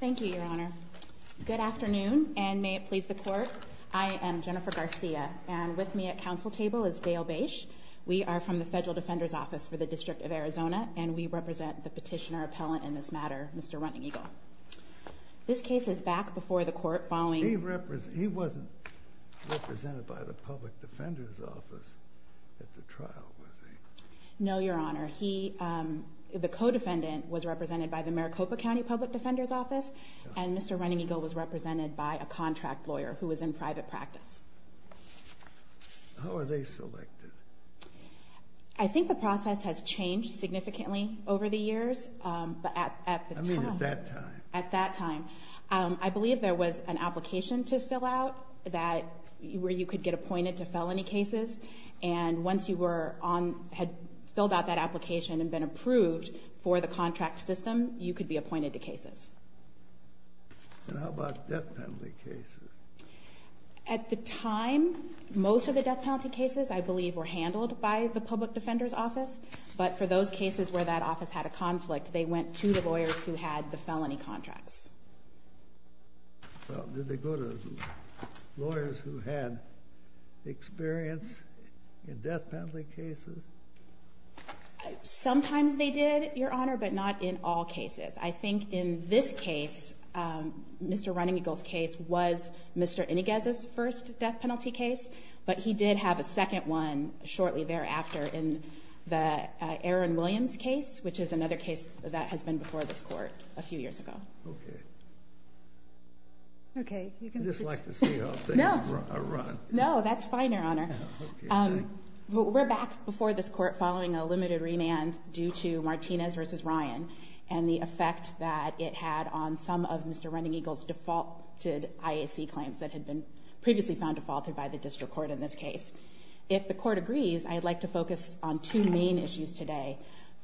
Thank you, Your Honor. Good afternoon, and may it please the court. I am Jennifer Garcia, and with me at council table is Dale Bache. We are from the Federal Defender's Office for the District of Arizona, and we represent the petitioner-appellant in this matter, Mr. Runneagle. This case is back before the court following... He wasn't represented by the Public Defender's Office at the trial, was he? No, Your Honor. The co-defendant was represented by the Maricopa County Public Defender's Office, and Mr. Runneagle was represented by a contract lawyer who was in private practice. How were they selected? I think the process has changed significantly over the years, but at the time... I mean at that time. At that time. I believe there was an application to fill out where you could get appointed to felony cases, and once you had filled out that application and been approved for the contract system, you could be appointed to cases. And how about death penalty cases? At the time, most of the death penalty cases, I believe, were handled by the Public Defender's Office, but for those cases where that office had a conflict, they went to the lawyers who had the felony contracts. Well, did they go to lawyers who had experience in death penalty cases? Sometimes they did, Your Honor, but not in all cases. I think in this case, Mr. Runneagle's case was Mr. Iniguez's first death penalty case, but he did have a second one shortly thereafter in the Aaron Williams case, which is another case that has been before this Court a few years ago. Okay. I'd just like to see how things run. No, that's fine, Your Honor. We're back before this Court following a limited remand due to Martinez v. Ryan and the effect that it had on some of Mr. Runneagle's defaulted IAC claims that had been previously found defaulted by the District Court in this case. If the Court agrees, I'd like to focus on two main issues today.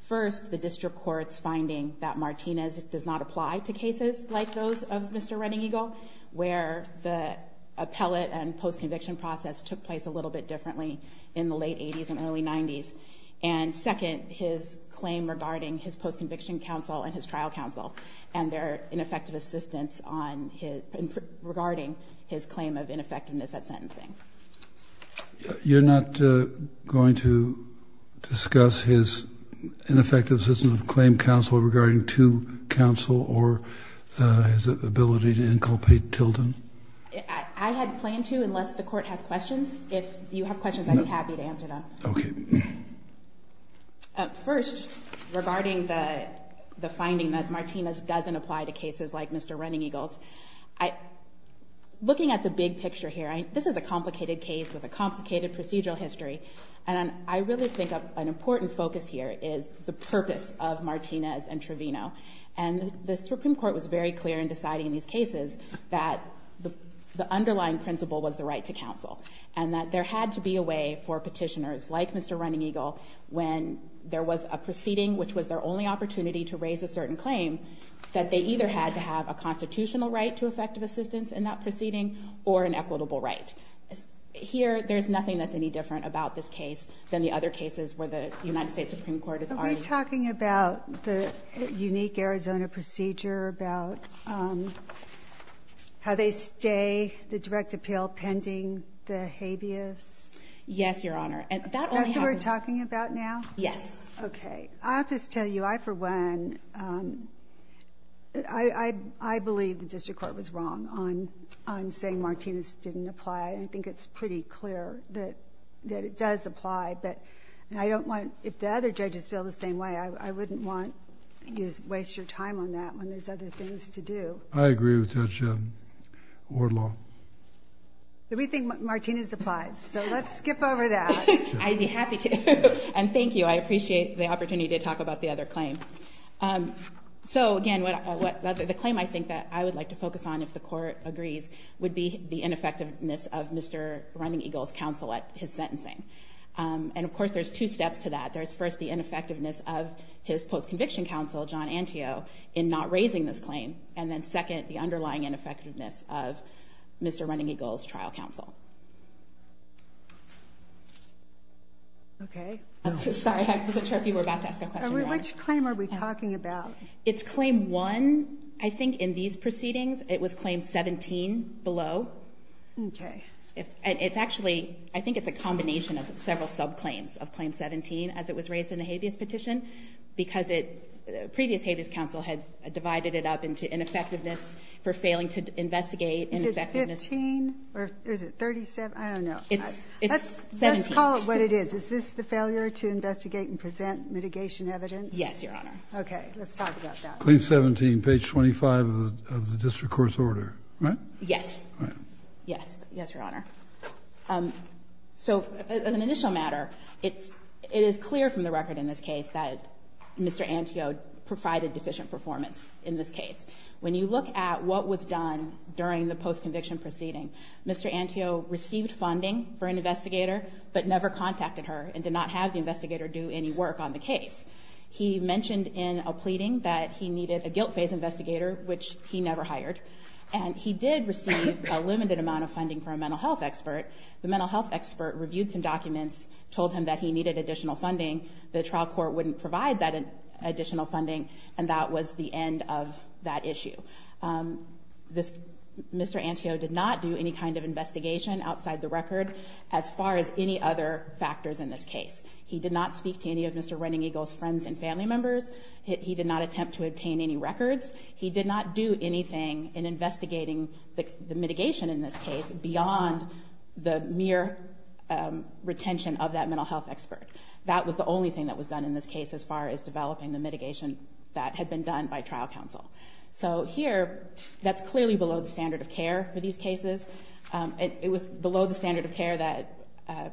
First, the District Court's finding that Martinez does not apply to cases like those of Mr. Runneagle, where the appellate and post-conviction process took place a little bit differently in the late 80s and early 90s. And second, his claim regarding his post-conviction counsel and his trial counsel and their ineffective assistance regarding his claim of ineffectiveness at sentencing. You're not going to discuss his ineffective assistance of claim counsel regarding to counsel or his ability to inculpate Tilden? I had planned to, unless the Court has questions. If you have questions, I'd be happy to answer them. Okay. First, regarding the finding that Martinez doesn't apply to cases like Mr. Runneagle's, looking at the big picture here, this is a complicated case with a complicated procedural history, and I really think an important focus here is the purpose of Martinez and Trevino. And the Supreme Court was very clear in deciding these cases that the underlying principle was the right to counsel and that there had to be a way for petitioners like Mr. Runneagle, when there was a proceeding which was their only opportunity to raise a certain claim, that they either had to have a constitutional right to effective assistance in that proceeding or an equitable right. Here, there's nothing that's any different about this case than the other cases where the United States Supreme Court has argued. Are we talking about the unique Arizona procedure, about how they stay the direct appeal pending the habeas? Yes, Your Honor. That's what we're talking about now? Yes. Okay. I'll just tell you, I for one, I believe the district court was wrong on saying Martinez didn't apply. I think it's pretty clear that it does apply, but I don't want, if the other judges feel the same way, I wouldn't want you to waste your time on that when there's other things to do. I agree with Judge Orloff. We think Martinez applies, so let's skip over that. I'd be happy to. And thank you. I appreciate the opportunity to talk about the other claim. So, again, the claim I think that I would like to focus on, if the court agrees, would be the ineffectiveness of Mr. Runneagle's counsel at his sentencing. And, of course, there's two steps to that. There's first the ineffectiveness of his post-conviction counsel, John Antio, in not raising this claim, and then second, the underlying ineffectiveness of Mr. Runneagle's trial counsel. Okay. Sorry, I wasn't sure if you were about to ask a question, Your Honor. Which claim are we talking about? It's Claim 1. I think in these proceedings it was Claim 17 below. Okay. It's actually, I think it's a combination of several sub-claims of Claim 17 as it was raised in the habeas petition because previous habeas counsel had divided it up into ineffectiveness for failing to investigate ineffectiveness. Is it 15 or is it 37? I don't know. It's 17. Let's call it what it is. Is this the failure to investigate and present mitigation evidence? Yes, Your Honor. Okay. Let's talk about that. Claim 17, page 25 of the district court's order, right? Yes. Right. Yes. Yes, Your Honor. So as an initial matter, it is clear from the record in this case that Mr. Antio provided deficient performance in this case. When you look at what was done during the post-conviction proceeding, Mr. Antio received funding for an investigator but never contacted her and did not have the investigator do any work on the case. He mentioned in a pleading that he needed a guilt phase investigator, which he never hired, and he did receive a limited amount of funding from a mental health expert. The mental health expert reviewed some documents, told him that he needed additional funding. The trial court wouldn't provide that additional funding, and that was the end of that issue. Mr. Antio did not do any kind of investigation outside the record as far as any other factors in this case. He did not speak to any of Mr. Running Eagle's friends and family members. He did not attempt to obtain any records. He did not do anything in investigating the mitigation in this case beyond the mere retention of that mental health expert. That was the only thing that was done in this case as far as developing the mitigation that had been done by trial counsel. So here, that's clearly below the standard of care for these cases. It was below the standard of care that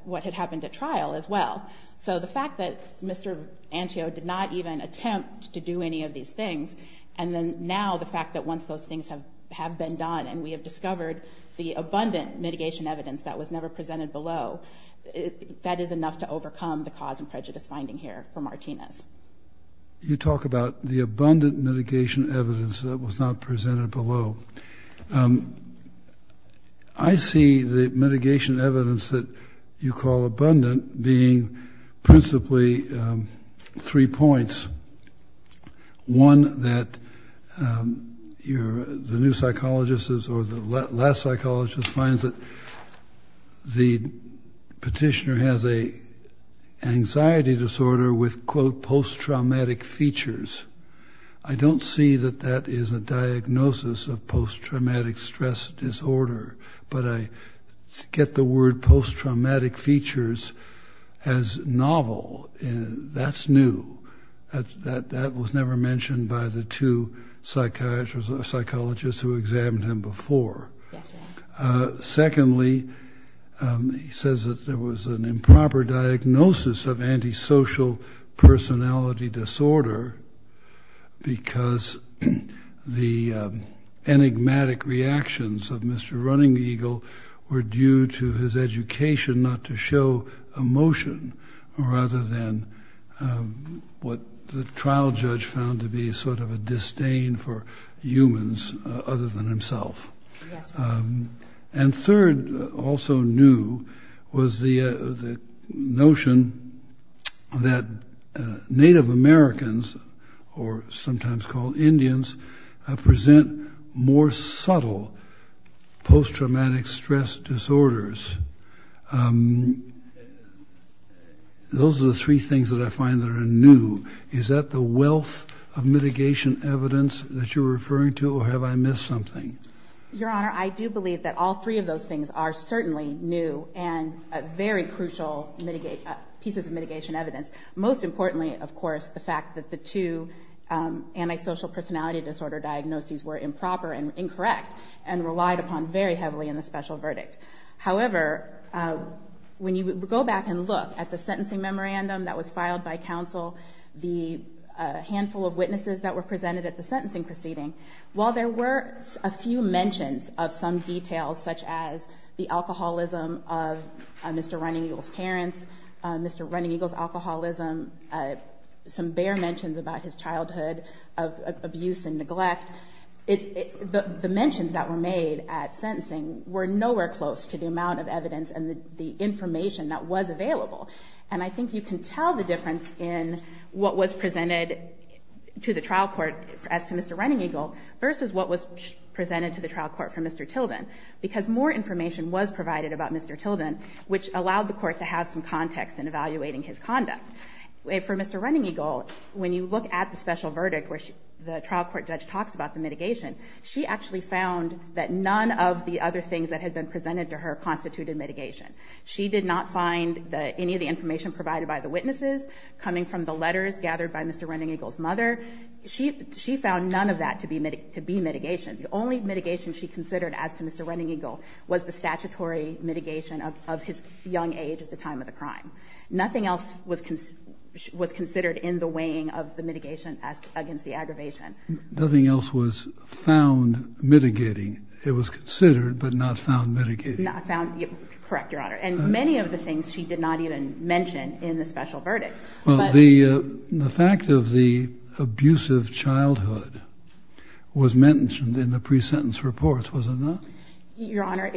what had happened at trial as well. So the fact that Mr. Antio did not even attempt to do any of these things, and then now the fact that once those things have been done and we have discovered the abundant mitigation evidence that was never presented below, that is enough to overcome the cause and prejudice finding here for Martinez. You talk about the abundant mitigation evidence that was not presented below. I see the mitigation evidence that you call abundant being principally three points. One, that the new psychologist or the last psychologist finds that the petitioner has an anxiety disorder with, quote, post-traumatic features. I don't see that that is a diagnosis of post-traumatic stress disorder, but I get the word post-traumatic features as novel. That's new. That was never mentioned by the two psychologists who examined him before. Secondly, he says that there was an improper diagnosis of antisocial personality disorder because the enigmatic reactions of Mr. Running Eagle were due to his education not to show emotion rather than what the trial judge found to be sort of a disdain for humans other than himself. And third, also new, was the notion that Native Americans, or sometimes called Indians, present more subtle post-traumatic stress disorders. Those are the three things that I find that are new. Is that the wealth of mitigation evidence that you're referring to, or have I missed something? Your Honor, I do believe that all three of those things are certainly new and very crucial pieces of mitigation evidence. Most importantly, of course, the fact that the two antisocial personality disorder diagnoses were improper and incorrect and relied upon very heavily in the special verdict. However, when you go back and look at the sentencing memorandum that was filed by counsel, the handful of witnesses that were presented at the sentencing proceeding, while there were a few mentions of some details such as the alcoholism of Mr. Running Eagle's parents, Mr. Running Eagle's alcoholism, some bare mentions about his childhood of abuse and neglect, the mentions that were made at sentencing were nowhere close to the amount of evidence and the information that was available. And I think you can tell the difference in what was presented to the trial court as to Mr. Running Eagle versus what was presented to the trial court for Mr. Tilden, because more information was provided about Mr. Tilden, which allowed the court to have some context in evaluating his conduct. For Mr. Running Eagle, when you look at the special verdict where the trial court judge talks about the mitigation, she actually found that none of the other things that had been presented to her constituted mitigation. She did not find any of the information provided by the witnesses coming from the letters gathered by Mr. Running Eagle's mother. She found none of that to be mitigation. The only mitigation she considered as to Mr. Running Eagle was the statutory mitigation of his young age at the time of the crime. Nothing else was considered in the weighing of the mitigation against the aggravation. Nothing else was found mitigating. It was considered but not found mitigating. Not found. Correct, Your Honor. And many of the things she did not even mention in the special verdict. Well, the fact of the abusive childhood was mentioned in the pre-sentence reports, was it not? Your Honor,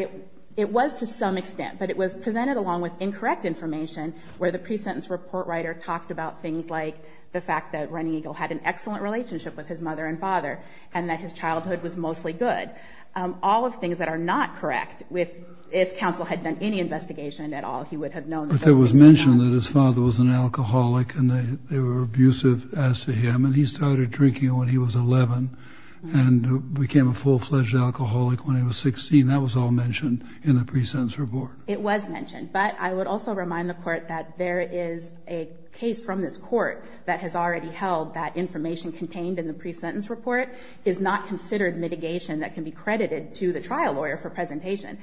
it was to some extent, but it was presented along with incorrect information where the pre-sentence report writer talked about things like the fact that Running Eagle had an excellent relationship with his mother and father and that his childhood was mostly good. All of the things that are not correct, if counsel had done any investigation at all, he would have known those things. But it was mentioned that his father was an alcoholic and they were abusive as to him and he started drinking when he was 11 and became a full-fledged alcoholic when he was 16. That was all mentioned in the pre-sentence report. It was mentioned, but I would also remind the Court that there is a case from this Court that has already held that information contained in the pre-sentence report is not considered mitigation that can be credited to the trial lawyer for presentation.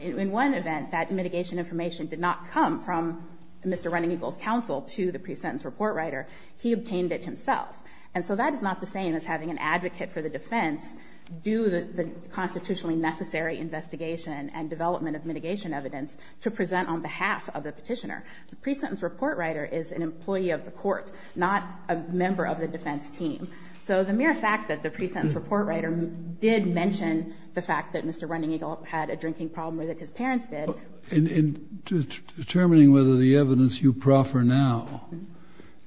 In one event, that mitigation information did not come from Mr. Running Eagle's counsel to the pre-sentence report writer. He obtained it himself. And so that is not the same as having an advocate for the defense do the constitutionally necessary investigation and development of mitigation evidence to present on behalf of the petitioner. The pre-sentence report writer is an employee of the Court, not a member of the defense team. So the mere fact that the pre-sentence report writer did mention the fact that Mr. Running Eagle had a drinking problem or that his parents did... In determining whether the evidence you proffer now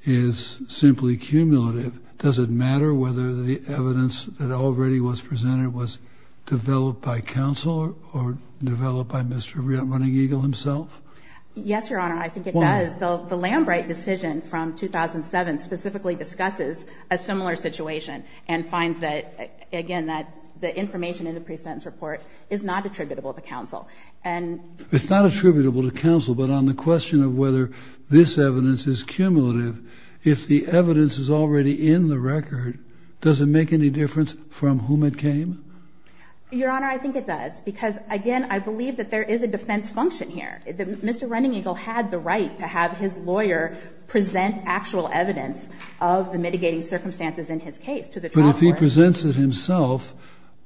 is simply cumulative, does it matter whether the evidence that already was presented was developed by counsel or developed by Mr. Running Eagle himself? Yes, Your Honor, I think it does. The Lambright decision from 2007 specifically discusses a similar situation and finds that, again, that the information in the pre-sentence report is not attributable to counsel. And... It's not attributable to counsel, but on the question of whether this evidence is cumulative, if the evidence is already in the record, does it make any difference from whom it came? Your Honor, I think it does, because, again, I believe that there is a defense function here. Mr. Running Eagle had the right to have his lawyer present actual evidence of the mitigating circumstances in his case to the trial court. But if he presents it himself,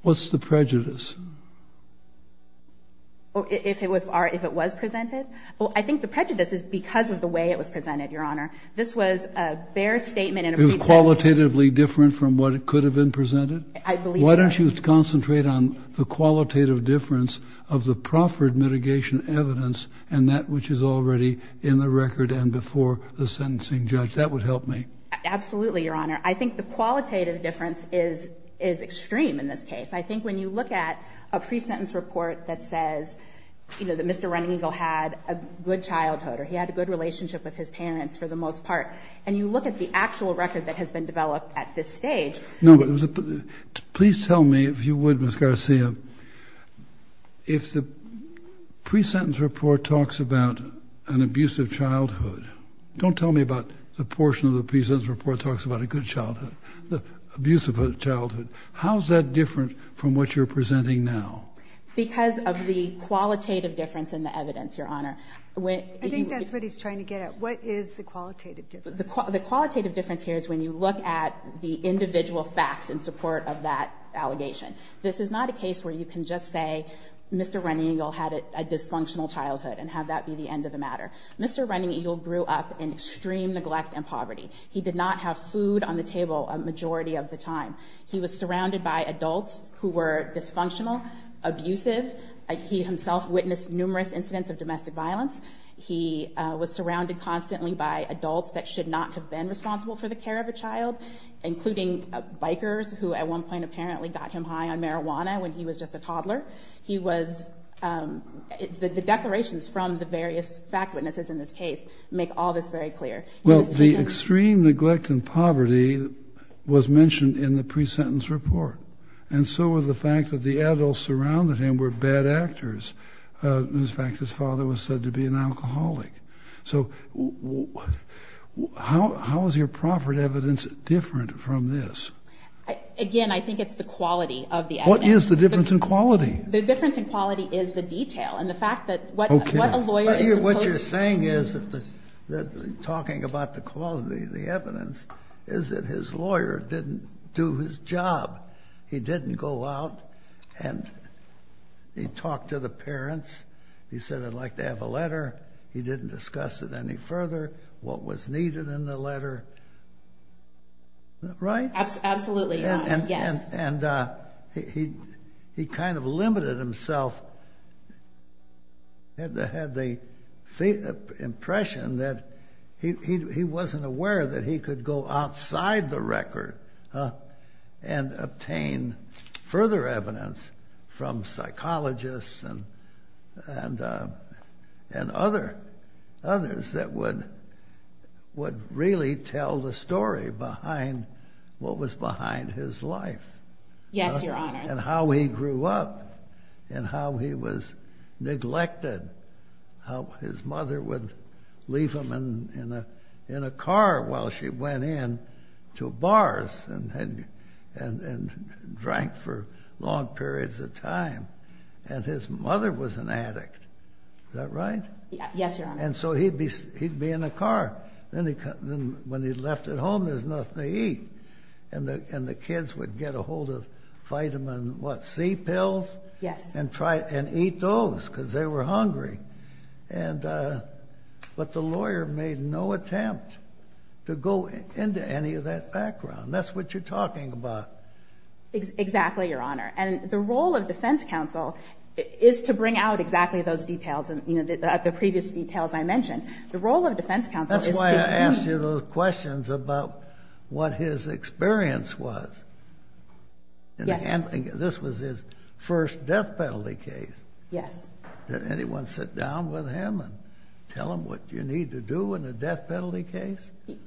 what's the prejudice? If it was presented? Well, I think the prejudice is because of the way it was presented, Your Honor. This was a bare statement in a pre-sentence. It was qualitatively different from what could have been presented? I believe so. Why don't you concentrate on the qualitative difference of the proffered mitigation evidence and that which is already in the record and before the sentencing judge? That would help me. Absolutely, Your Honor. I think the qualitative difference is extreme in this case. I think when you look at a pre-sentence report that says, you know, that Mr. Running Eagle had a good childhood or he had a good relationship with his parents for the most part, and you look at the actual record that has been developed at this stage... No, but please tell me, if you would, Ms. Garcia, if the pre-sentence report talks about an abusive childhood, don't tell me about the portion of the pre-sentence report that talks about a good childhood, the abusive childhood. How is that different from what you're presenting now? Because of the qualitative difference in the evidence, Your Honor. I think that's what he's trying to get at. What is the qualitative difference? The qualitative difference here is when you look at the individual facts in support of that allegation. This is not a case where you can just say, Mr. Running Eagle had a dysfunctional childhood and have that be the end of the matter. Mr. Running Eagle grew up in extreme neglect and poverty. He did not have food on the table a majority of the time. He was surrounded by adults who were dysfunctional, abusive. He himself witnessed numerous incidents of domestic violence. He was surrounded constantly by adults that should not have been responsible for the care of a child, including bikers who at one point apparently got him high on marijuana when he was just a toddler. The declarations from the various fact witnesses in this case make all this very clear. Well, the extreme neglect and poverty was mentioned in the pre-sentence report, and so was the fact that the adults surrounding him were bad actors. In fact, his father was said to be an alcoholic. So how is your proffered evidence different from this? Again, I think it's the quality of the evidence. What is the difference in quality? The difference in quality is the detail and the fact that what a lawyer is supposed to do. What you're saying is that talking about the quality of the evidence is that his lawyer didn't do his job. He didn't go out and he talked to the parents. He said, I'd like to have a letter. He didn't discuss it any further, what was needed in the letter. Right? Absolutely, yes. And he kind of limited himself, had the impression that he wasn't aware that he could go outside the record and obtain further evidence from psychologists and others that would really tell the story behind what was behind his life. Yes, Your Honor. And how he grew up and how he was neglected, how his mother would leave him in a car while she went in to bars and drank for long periods of time. And his mother was an addict. Is that right? Yes, Your Honor. And so he'd be in a car. When he left it home, there was nothing to eat. And the kids would get a hold of vitamin C pills and eat those because they were hungry. But the lawyer made no attempt to go into any of that background. That's what you're talking about. Exactly, Your Honor. And the role of defense counsel is to bring out exactly those details, the previous details I mentioned. The role of defense counsel is to see. That's why I asked you those questions about what his experience was. Yes. And this was his first death penalty case. Yes. Did anyone sit down with him and tell him what you need to do in a death penalty case?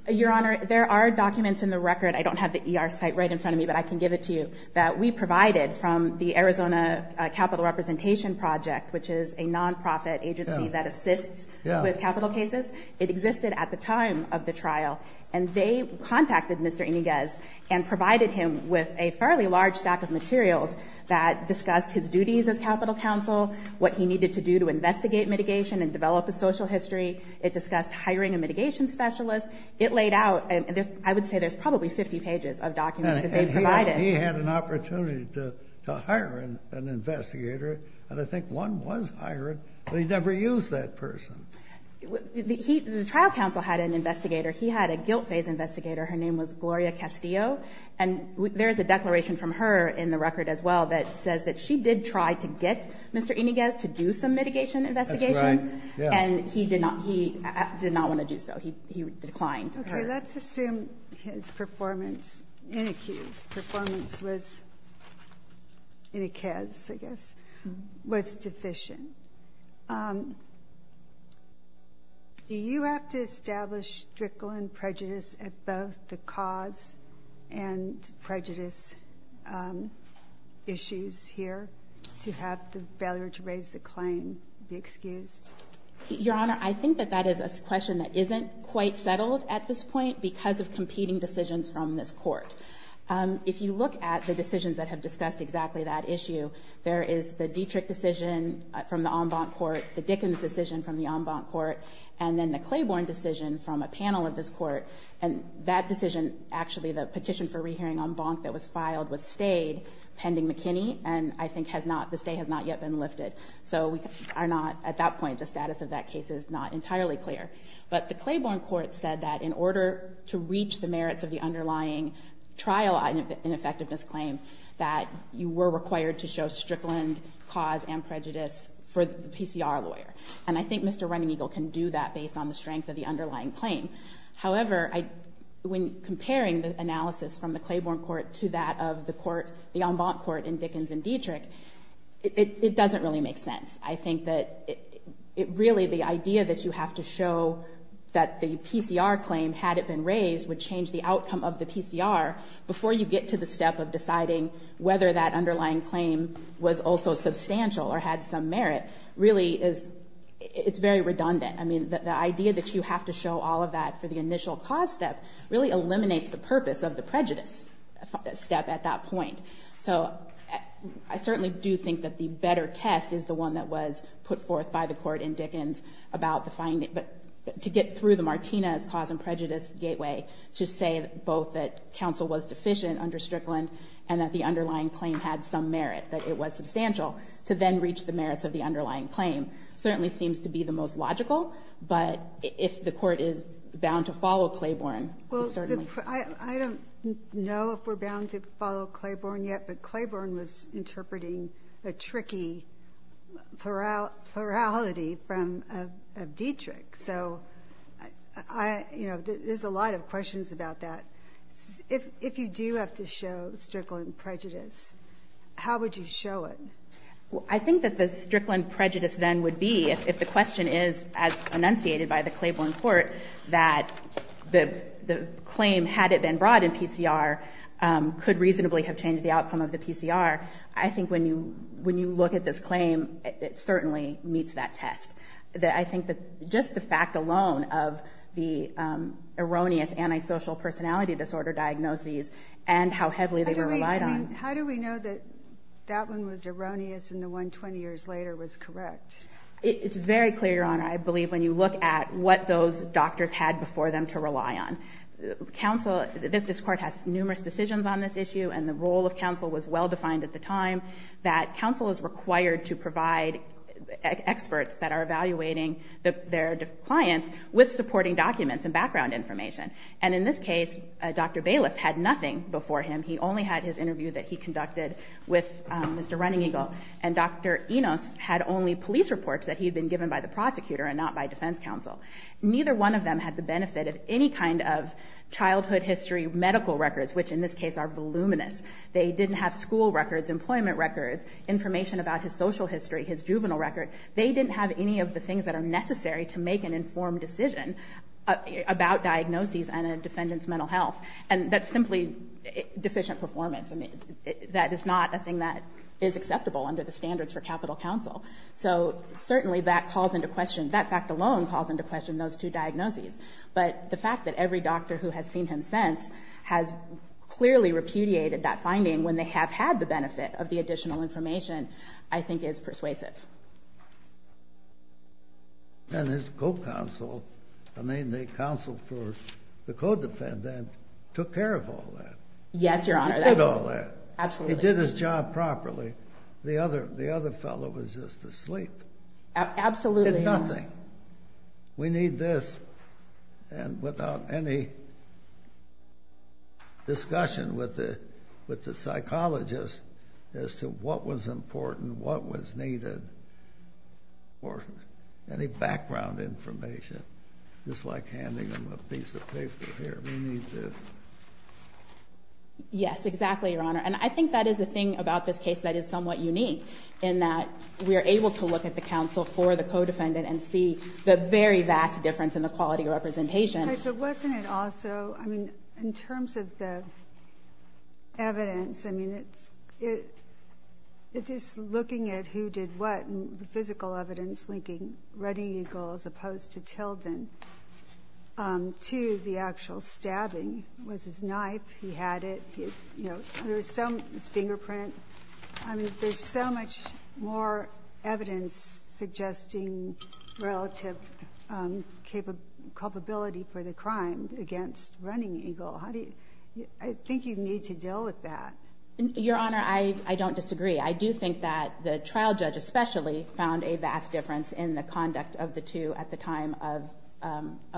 Your Honor, there are documents in the record. I don't have the ER site right in front of me, but I can give it to you, that we provided from the Arizona Capital Representation Project, which is a nonprofit agency that assists with capital cases. It existed at the time of the trial. And they contacted Mr. Iniguez and provided him with a fairly large stack of materials that discussed his duties as capital counsel, what he needed to do to investigate mitigation and develop a social history. It discussed hiring a mitigation specialist. It laid out. I would say there's probably 50 pages of documents that they provided. He had an opportunity to hire an investigator, and I think one was hired, but he never used that person. The trial counsel had an investigator. He had a guilt phase investigator. Her name was Gloria Castillo. And there is a declaration from her in the record as well that says that she did try to get Mr. Iniguez to do some mitigation investigation. That's right. And he did not want to do so. He declined her. Okay. Let's assume his performance, Iniguez's performance was, Iniguez, I guess, was deficient. Do you have to establish stricter prejudice at both the cause and prejudice issues here to have the failure to raise the claim be excused? Your Honor, I think that that is a question that isn't quite settled at this point because of competing decisions from this court. If you look at the decisions that have discussed exactly that issue, there is the Dietrich decision from the en banc court, the Dickens decision from the en banc court, and then the Claiborne decision from a panel of this court. And that decision, actually, the petition for rehearing en banc that was filed was stayed pending McKinney, and I think the stay has not yet been lifted. So we are not, at that point, the status of that case is not entirely clear. But the Claiborne court said that in order to reach the merits of the underlying trial ineffectiveness claim that you were required to show strickland cause and prejudice for the PCR lawyer. And I think Mr. Running Eagle can do that based on the strength of the underlying claim. However, when comparing the analysis from the Claiborne court to that of the court, the en banc court in Dickens and Dietrich, it doesn't really make sense. I think that really the idea that you have to show that the PCR claim, had it been raised, would change the outcome of the PCR before you get to the step of deciding whether that underlying claim was also substantial or had some merit, really is, it's very redundant. I mean, the idea that you have to show all of that for the initial cause step really eliminates the purpose of the prejudice step at that point. So I certainly do think that the better test is the one that was put forth by the court in Dickens about the finding. But to get through the Martinez cause and prejudice gateway to say both that counsel was deficient under Strickland and that the underlying claim had some merit, that it was substantial, to then reach the merits of the underlying claim, certainly seems to be the most logical. But if the court is bound to follow Claiborne, it's certainly... I don't know if we're bound to follow Claiborne yet, but Claiborne was interpreting a tricky plurality of Dietrich. So there's a lot of questions about that. If you do have to show Strickland prejudice, how would you show it? I think that the Strickland prejudice then would be, if the question is as enunciated by the Claiborne court, that the claim, had it been brought in PCR, could reasonably have changed the outcome of the PCR, I think when you look at this claim, it certainly meets that test. I think just the fact alone of the erroneous antisocial personality disorder diagnoses and how heavily they were relied on. How do we know that that one was erroneous and the one 20 years later was correct? It's very clear, Your Honor, I believe, when you look at what those doctors had before them to rely on. This court has numerous decisions on this issue and the role of counsel was well-defined at the time, that counsel is required to provide experts that are evaluating their clients with supporting documents and background information. And in this case, Dr. Bayless had nothing before him. He only had his interview that he conducted with Mr. Running Eagle. And Dr. Enos had only police reports that he had been given by the prosecutor and not by defense counsel. Neither one of them had the benefit of any kind of childhood history medical records, which in this case are voluminous. They didn't have school records, employment records, information about his social history, his juvenile record. They didn't have any of the things that are necessary to make an informed decision about diagnoses and a defendant's mental health. And that's simply deficient performance. That is not a thing that is acceptable under the standards for capital counsel. So certainly that calls into question, that fact alone calls into question those two diagnoses. But the fact that every doctor who has seen him since has clearly repudiated that finding when they have had the benefit of the additional information, I think is persuasive. And his co-counsel, I mean the counsel for the co-defendant, took care of all that. Yes, Your Honor. He did all that. Absolutely. He did his job properly. The other fellow was just asleep. Absolutely, Your Honor. Did nothing. We need this, and without any discussion with the psychologist, as to what was important, what was needed, or any background information. Just like handing them a piece of paper here. We need this. Yes, exactly, Your Honor. And I think that is the thing about this case that is somewhat unique, in that we are able to look at the counsel for the co-defendant and see the very vast difference in the quality of representation. But wasn't it also, I mean, in terms of the evidence, I mean it is looking at who did what, and the physical evidence linking Red Eagle as opposed to Tilden, to the actual stabbing. It was his knife. He had it. His fingerprint. I mean, there is so much more evidence suggesting relative culpability for the crime against Running Eagle. I think you need to deal with that. Your Honor, I don't disagree. I do think that the trial judge especially found a vast difference in the conduct of the two at the time of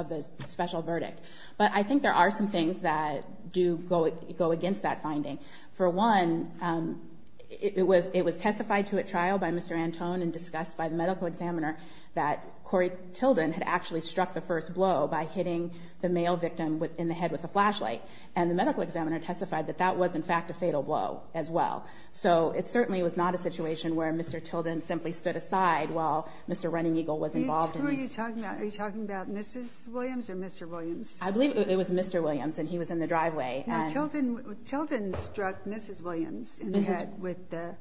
the special verdict. But I think there are some things that do go against that finding. For one, it was testified to at trial by Mr. Antone and discussed by the medical examiner that Corey Tilden had actually struck the first blow by hitting the male victim in the head with a flashlight. And the medical examiner testified that that was, in fact, a fatal blow as well. So it certainly was not a situation where Mr. Tilden simply stood aside while Mr. Running Eagle was involved in this. Who are you talking about? Are you talking about Mrs. Williams or Mr. Williams? I believe it was Mr. Williams, and he was in the driveway. And Tilden struck Mrs. Williams in the head with the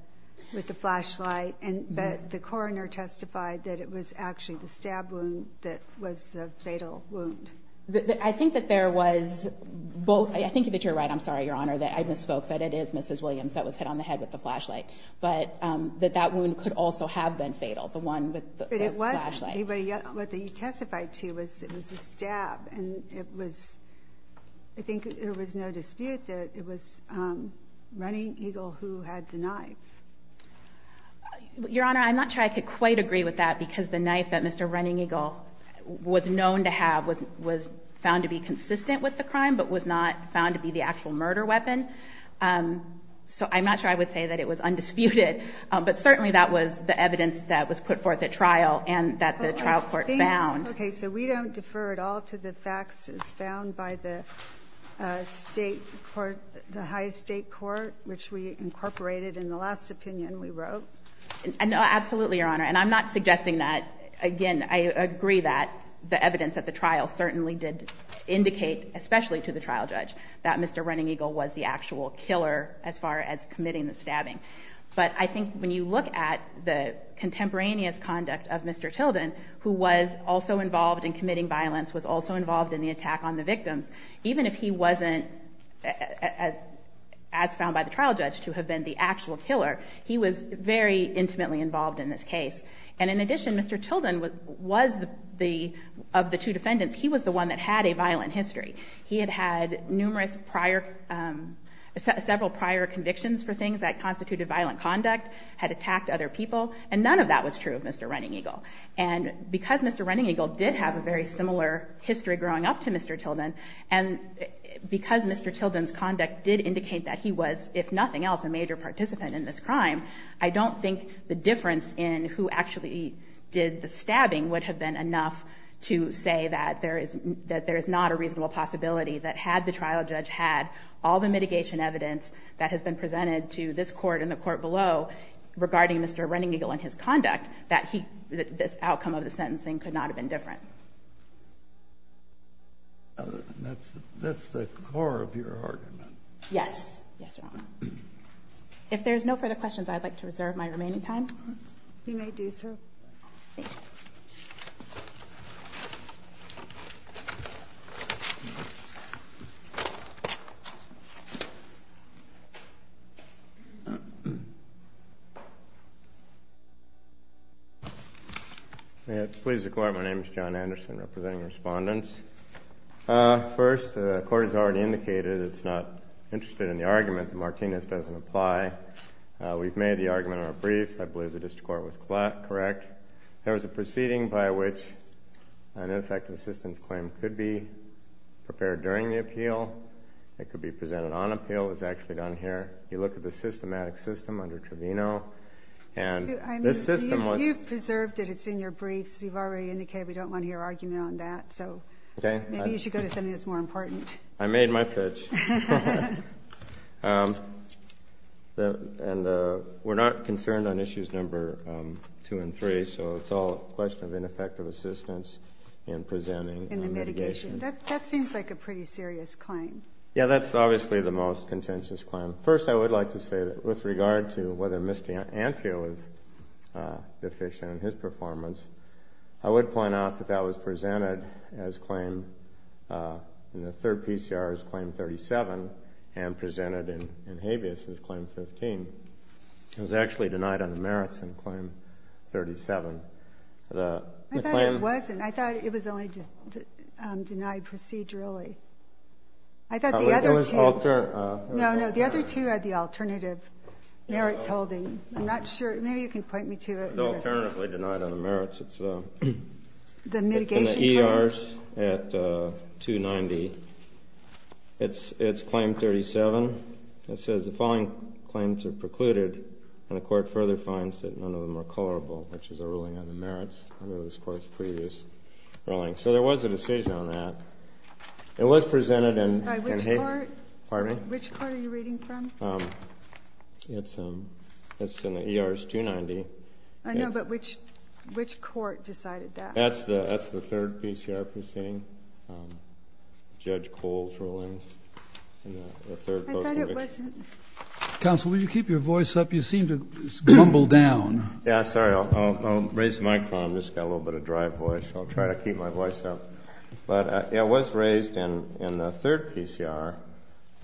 flashlight, but the coroner testified that it was actually the stab wound that was the fatal wound. I think that there was both. I think that you're right, I'm sorry, Your Honor, that I misspoke, that it is Mrs. Williams that was hit on the head with the flashlight, but that that wound could also have been fatal, the one with the flashlight. But it was, what you testified to was it was a stab, and it was, I think there was no dispute that it was Running Eagle who had the knife. Your Honor, I'm not sure I could quite agree with that, because the knife that Mr. Running Eagle was known to have was found to be consistent with the crime, but was not found to be the actual murder weapon. So I'm not sure I would say that it was undisputed, but certainly that was the evidence that was put forth at trial and that the trial court found. Okay, so we don't defer at all to the facts as found by the state court, the high state court, which we incorporated in the last opinion we wrote? No, absolutely, Your Honor. And I'm not suggesting that, again, I agree that the evidence at the trial certainly did indicate, especially to the trial judge, that Mr. Running Eagle was the actual killer as far as committing the stabbing. But I think when you look at the contemporaneous conduct of Mr. Tilden, who was also involved in committing violence, was also involved in the attack on the victims, even if he wasn't, as found by the trial judge, to have been the actual killer, he was very intimately involved in this case. And in addition, Mr. Tilden was the, of the two defendants, he was the one that had a violent history. He had had numerous prior, several prior convictions for things that constituted violent conduct, had attacked other people, and none of that was true of Mr. Running Eagle. And because Mr. Running Eagle did have a very similar history growing up to Mr. Tilden, and because Mr. Tilden's conduct did indicate that he was, if nothing else, a major participant in this crime, I don't think the difference in who actually did the stabbing would have been enough to say that there is, that there is not a reasonable possibility that had the trial judge had all the mitigation evidence that has been presented to this court and the court below regarding Mr. Running Eagle and his conduct, that he, this outcome of the sentencing could not have been different. That's the core of your argument. Yes. Yes, Your Honor. If there's no further questions, I'd like to reserve my remaining time. You may do so. Thank you. May it please the Court, my name is John Anderson, representing the respondents. First, the Court has already indicated it's not interested in the argument that Martinez doesn't apply. We've made the argument in our briefs. I believe the district court was correct. There was a proceeding by which an effective assistance claim could be prepared during the appeal. It could be presented on appeal. It's actually done here. You look at the systematic system under Trevino, and this system was You've preserved it. It's in your briefs. You've already indicated we don't want to hear argument on that. So maybe you should go to something that's more important. I made my pitch. And we're not concerned on issues number two and three, so it's all a question of ineffective assistance in presenting the mitigation. That seems like a pretty serious claim. Yeah, that's obviously the most contentious claim. First, I would like to say that with regard to whether Mr. Antrio is deficient in his performance, I would point out that that was presented in the third PCR as claim 37 and presented in habeas as claim 15. It was actually denied on the merits in claim 37. I thought it wasn't. It was denied procedurally. I thought the other two had the alternative merits holding. I'm not sure. Maybe you can point me to it. It was alternatively denied on the merits. It's in the ERs at 290. It's claim 37. It says the following claims are precluded, and the court further finds that none of them are colorable, which is a ruling on the merits under this Court's previous ruling. So there was a decision on that. It was presented in habeas. Which court are you reading from? It's in the ERs 290. I know, but which court decided that? That's the third PCR proceeding, Judge Cole's ruling. I thought it wasn't. Counsel, will you keep your voice up? You seem to grumble down. Yeah, sorry. I'll raise the microphone. I've just got a little bit of dry voice. I'll try to keep my voice up. But it was raised in the third PCR,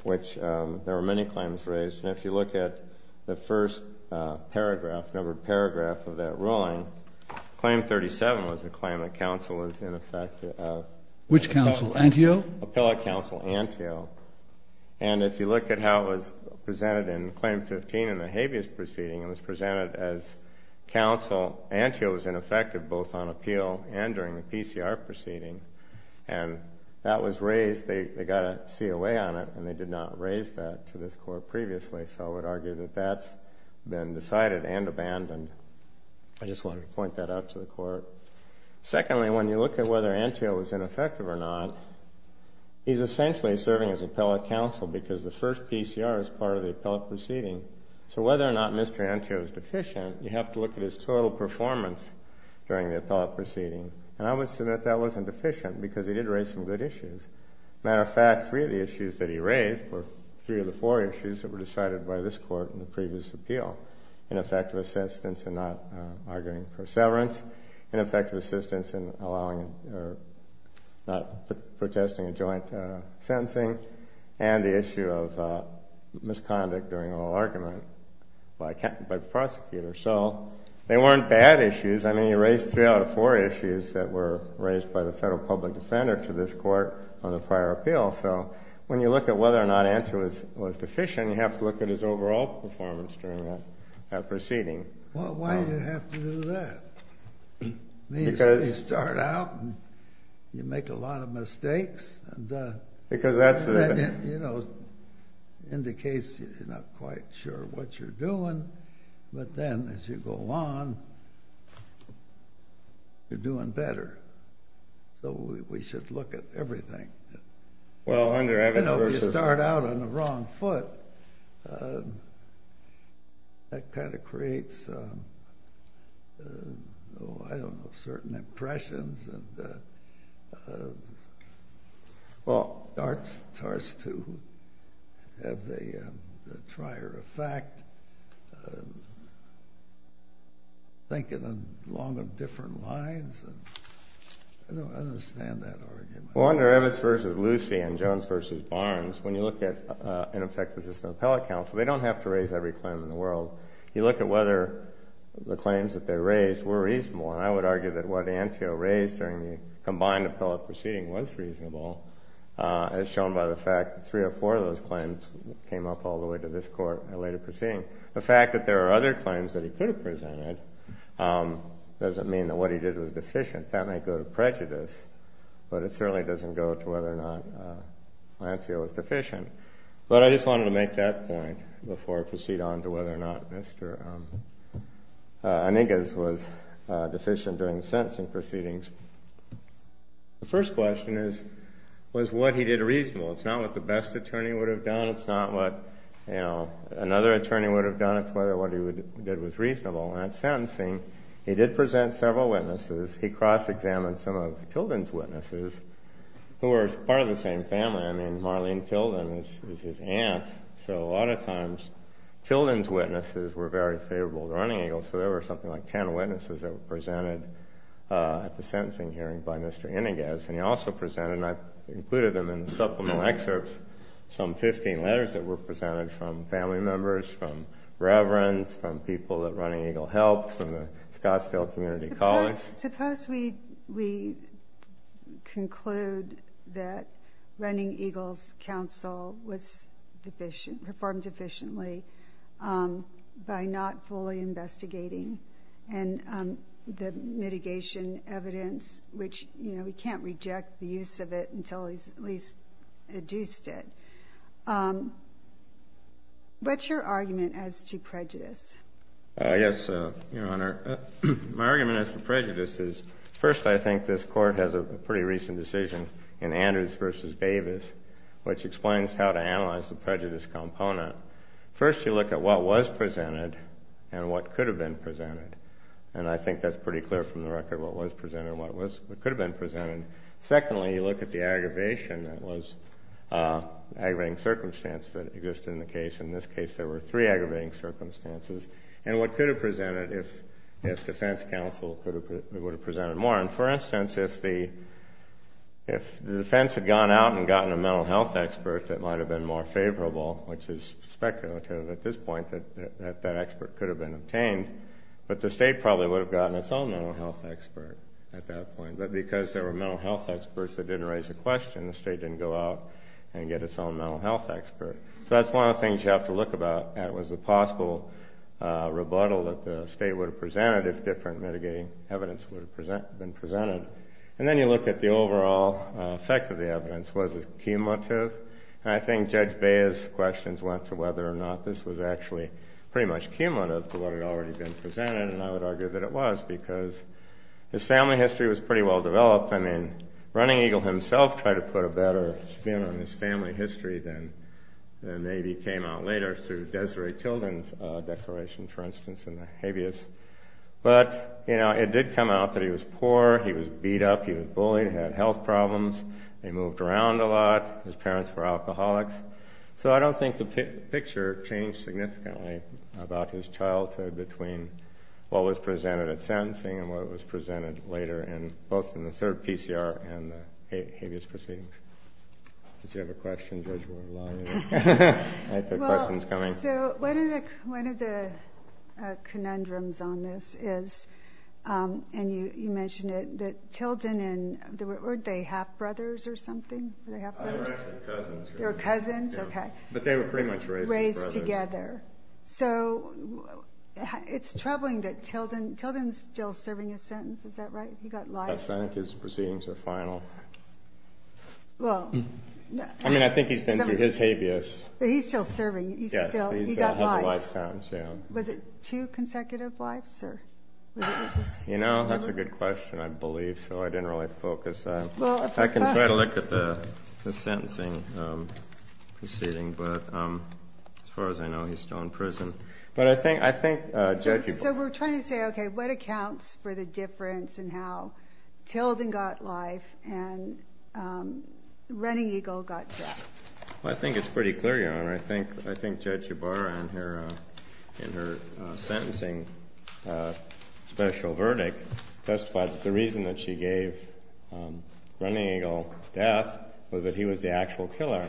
which there were many claims raised. And if you look at the first paragraph, numbered paragraph of that ruling, claim 37 was a claim that counsel is in effect of? Which counsel? Antio? Appellate counsel Antio. And if you look at how it was presented in claim 15 in the habeas proceeding, it was presented as counsel Antio was in effect of both on appeal and during the PCR proceeding. And that was raised. They got a COA on it, and they did not raise that to this court previously. So I would argue that that's been decided and abandoned. I just wanted to point that out to the court. Secondly, when you look at whether Antio was in effect of or not, he's essentially serving as appellate counsel because the first PCR is part of the appellate proceeding. So whether or not Mr. Antio is deficient, you have to look at his total performance during the appellate proceeding. And I would assume that that wasn't deficient because he did raise some good issues. Matter of fact, three of the issues that he raised were three of the four issues that were decided by this court in the previous appeal. In effect of assistance and not arguing for severance, in effect of assistance in not protesting a joint sentencing, and the issue of misconduct during oral argument by the prosecutor. So they weren't bad issues. I mean, he raised three out of four issues that were raised by the federal public defender to this court on the prior appeal. So when you look at whether or not Antio was deficient, you have to look at his overall performance during that proceeding. Well, why did he have to do that? They start out, and you make a lot of mistakes. Because that's the thing. You know, indicates you're not quite sure what you're doing, but then as you go on, you're doing better. So we should look at everything. Well, under Evans versus… You know, you start out on the wrong foot. That kind of creates, oh, I don't know, certain impressions. And it starts to have the trier effect, thinking along different lines. I don't understand that argument. Well, under Evans versus Lucy and Jones versus Barnes, when you look at an effective system of appellate counsel, they don't have to raise every claim in the world. You look at whether the claims that they raised were reasonable, and I would argue that what Antio raised during the combined appellate proceeding was reasonable, as shown by the fact that three or four of those claims came up all the way to this court at a later proceeding. The fact that there are other claims that he could have presented doesn't mean that what he did was deficient. That might go to prejudice, but it certainly doesn't go to whether or not Antio was deficient. But I just wanted to make that point before I proceed on to whether or not Mr. Enigas was deficient during the sentencing proceedings. The first question is, was what he did reasonable? It's not what the best attorney would have done. It's not what another attorney would have done. It's whether what he did was reasonable. And at sentencing, he did present several witnesses. He cross-examined some of Tilden's witnesses who were part of the same family. I mean, Marlene Tilden is his aunt, so a lot of times Tilden's witnesses were very favorable to Running Eagle, so there were something like 10 witnesses that were presented at the sentencing hearing by Mr. Enigas. And he also presented, and I've included them in the supplemental excerpts, some 15 letters that were presented from family members, from reverends, from people that Running Eagle helped, from the Scottsdale Community College. Suppose we conclude that Running Eagle's counsel performed deficiently by not fully investigating, and the mitigation evidence, which we can't reject the use of it until he's at least adduced it. What's your argument as to prejudice? Yes, Your Honor. My argument as to prejudice is, first, I think this Court has a pretty recent decision in Andrews v. Davis, which explains how to analyze the prejudice component. First, you look at what was presented and what could have been presented. And I think that's pretty clear from the record, what was presented and what could have been presented. Secondly, you look at the aggravation, that was an aggravating circumstance that existed in the case. In this case, there were three aggravating circumstances. And what could have been presented if defense counsel would have presented more. For instance, if the defense had gone out and gotten a mental health expert that might have been more favorable, which is speculative at this point, that that expert could have been obtained. But the state probably would have gotten its own mental health expert at that point. But because there were mental health experts that didn't raise a question, the state didn't go out and get its own mental health expert. So that's one of the things you have to look at, was the possible rebuttal that the state would have presented if different mitigating evidence would have been presented. And then you look at the overall effect of the evidence. Was it cumulative? And I think Judge Baez's questions went to whether or not this was actually pretty much cumulative to what had already been presented. And I would argue that it was, because his family history was pretty well developed. I mean, Running Eagle himself tried to put a better spin on his family history than maybe came out later through Desiree Tilden's declaration, for instance, in the habeas. But, you know, it did come out that he was poor, he was beat up, he was bullied, had health problems. They moved around a lot. His parents were alcoholics. So I don't think the picture changed significantly about his childhood between what was presented at sentencing and what was presented later both in the third PCR and the habeas proceeding. Did you have a question, Judge? I have questions coming. So one of the conundrums on this is, and you mentioned it, that Tilden and... weren't they half-brothers or something? They were actually cousins. They were cousins? Okay. But they were pretty much raised together. So it's troubling that Tilden... Tilden's still serving his sentence, is that right? He got life. I think his proceedings are final. Well... I mean, I think he's been through his habeas. But he's still serving. He got life. He still has a life sentence, yeah. Was it two consecutive lives? You know, that's a good question, I believe, so I didn't really focus on... I can try to look at the sentencing proceeding, but as far as I know, he's still in prison. But I think, Judge... So we're trying to say, okay, what accounts for the difference in how Tilden got life and Running Eagle got death? Well, I think it's pretty clear, Your Honor. I think Judge Ybarra, in her sentencing special verdict, testified that the reason that she gave Running Eagle death was that he was the actual killer.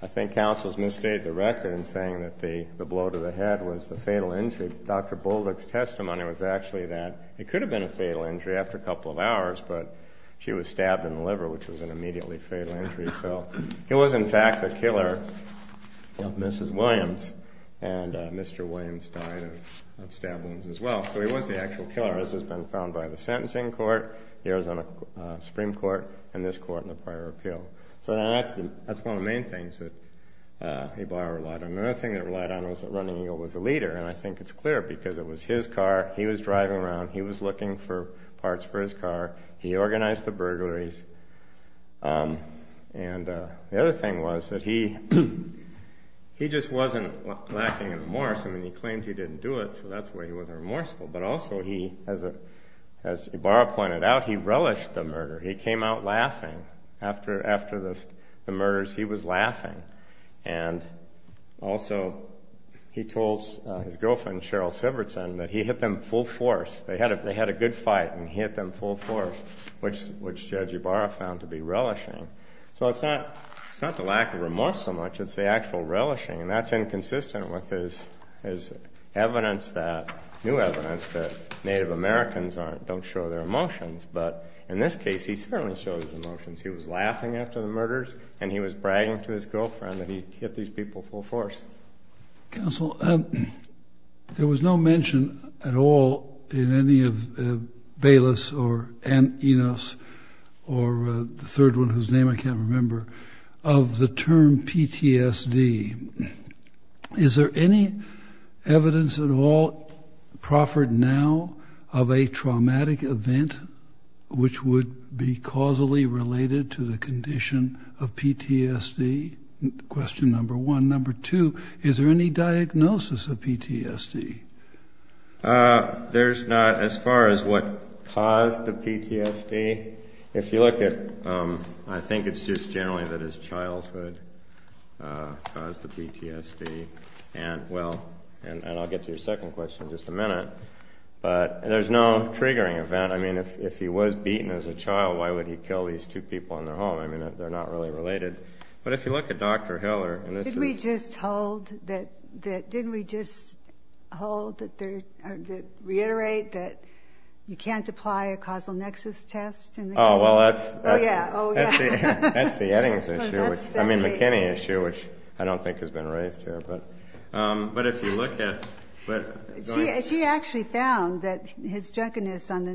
I think counsels misstated the record in saying that the blow to the head was the fatal injury. Dr. Bullock's testimony was actually that it could have been a fatal injury after a couple of hours, but she was stabbed in the liver, which was an immediately fatal injury. So he was, in fact, the killer of Mrs. Williams, and Mr. Williams died of stab wounds as well. So he was the actual killer. This has been found by the sentencing court, the Arizona Supreme Court, and this court in the prior appeal. So that's one of the main things that Ybarra relied on. Another thing that he relied on was that Running Eagle was the leader, and I think it's clear because it was his car, he was driving around, he was looking for parts for his car, he organized the burglaries. And the other thing was that he just wasn't lacking in remorse. I mean, he claimed he didn't do it, so that's why he wasn't remorseful. But also, as Ybarra pointed out, he relished the murder. He came out laughing. After the murders, he was laughing. And also, he told his girlfriend, Cheryl Sivertson, that he hit them full force. They had a good fight, and he hit them full force, which Judge Ybarra found to be relishing. So it's not the lack of remorse so much, it's the actual relishing, and that's inconsistent with his new evidence that Native Americans don't show their emotions. But in this case, he certainly showed his emotions. He was laughing after the murders, and he was bragging to his girlfriend that he hit these people full force. Counsel, there was no mention at all in any of Velas or Enos or the third one whose name I can't remember of the term PTSD. Is there any evidence at all proffered now of a traumatic event which would be causally related to the condition of PTSD? Question number one. Number two, is there any diagnosis of PTSD? There's not as far as what caused the PTSD. If you look at, I think it's just generally that his childhood caused the PTSD. And I'll get to your second question in just a minute. But there's no triggering event. I mean, if he was beaten as a child, why would he kill these two people in their home? I mean, they're not really related. But if you look at Dr. Hill or Enos. Didn't we just reiterate that you can't apply a causal nexus test? Oh, well, that's the McKinney issue, which I don't think has been raised here. But if you look at. She actually found that his drunkenness on the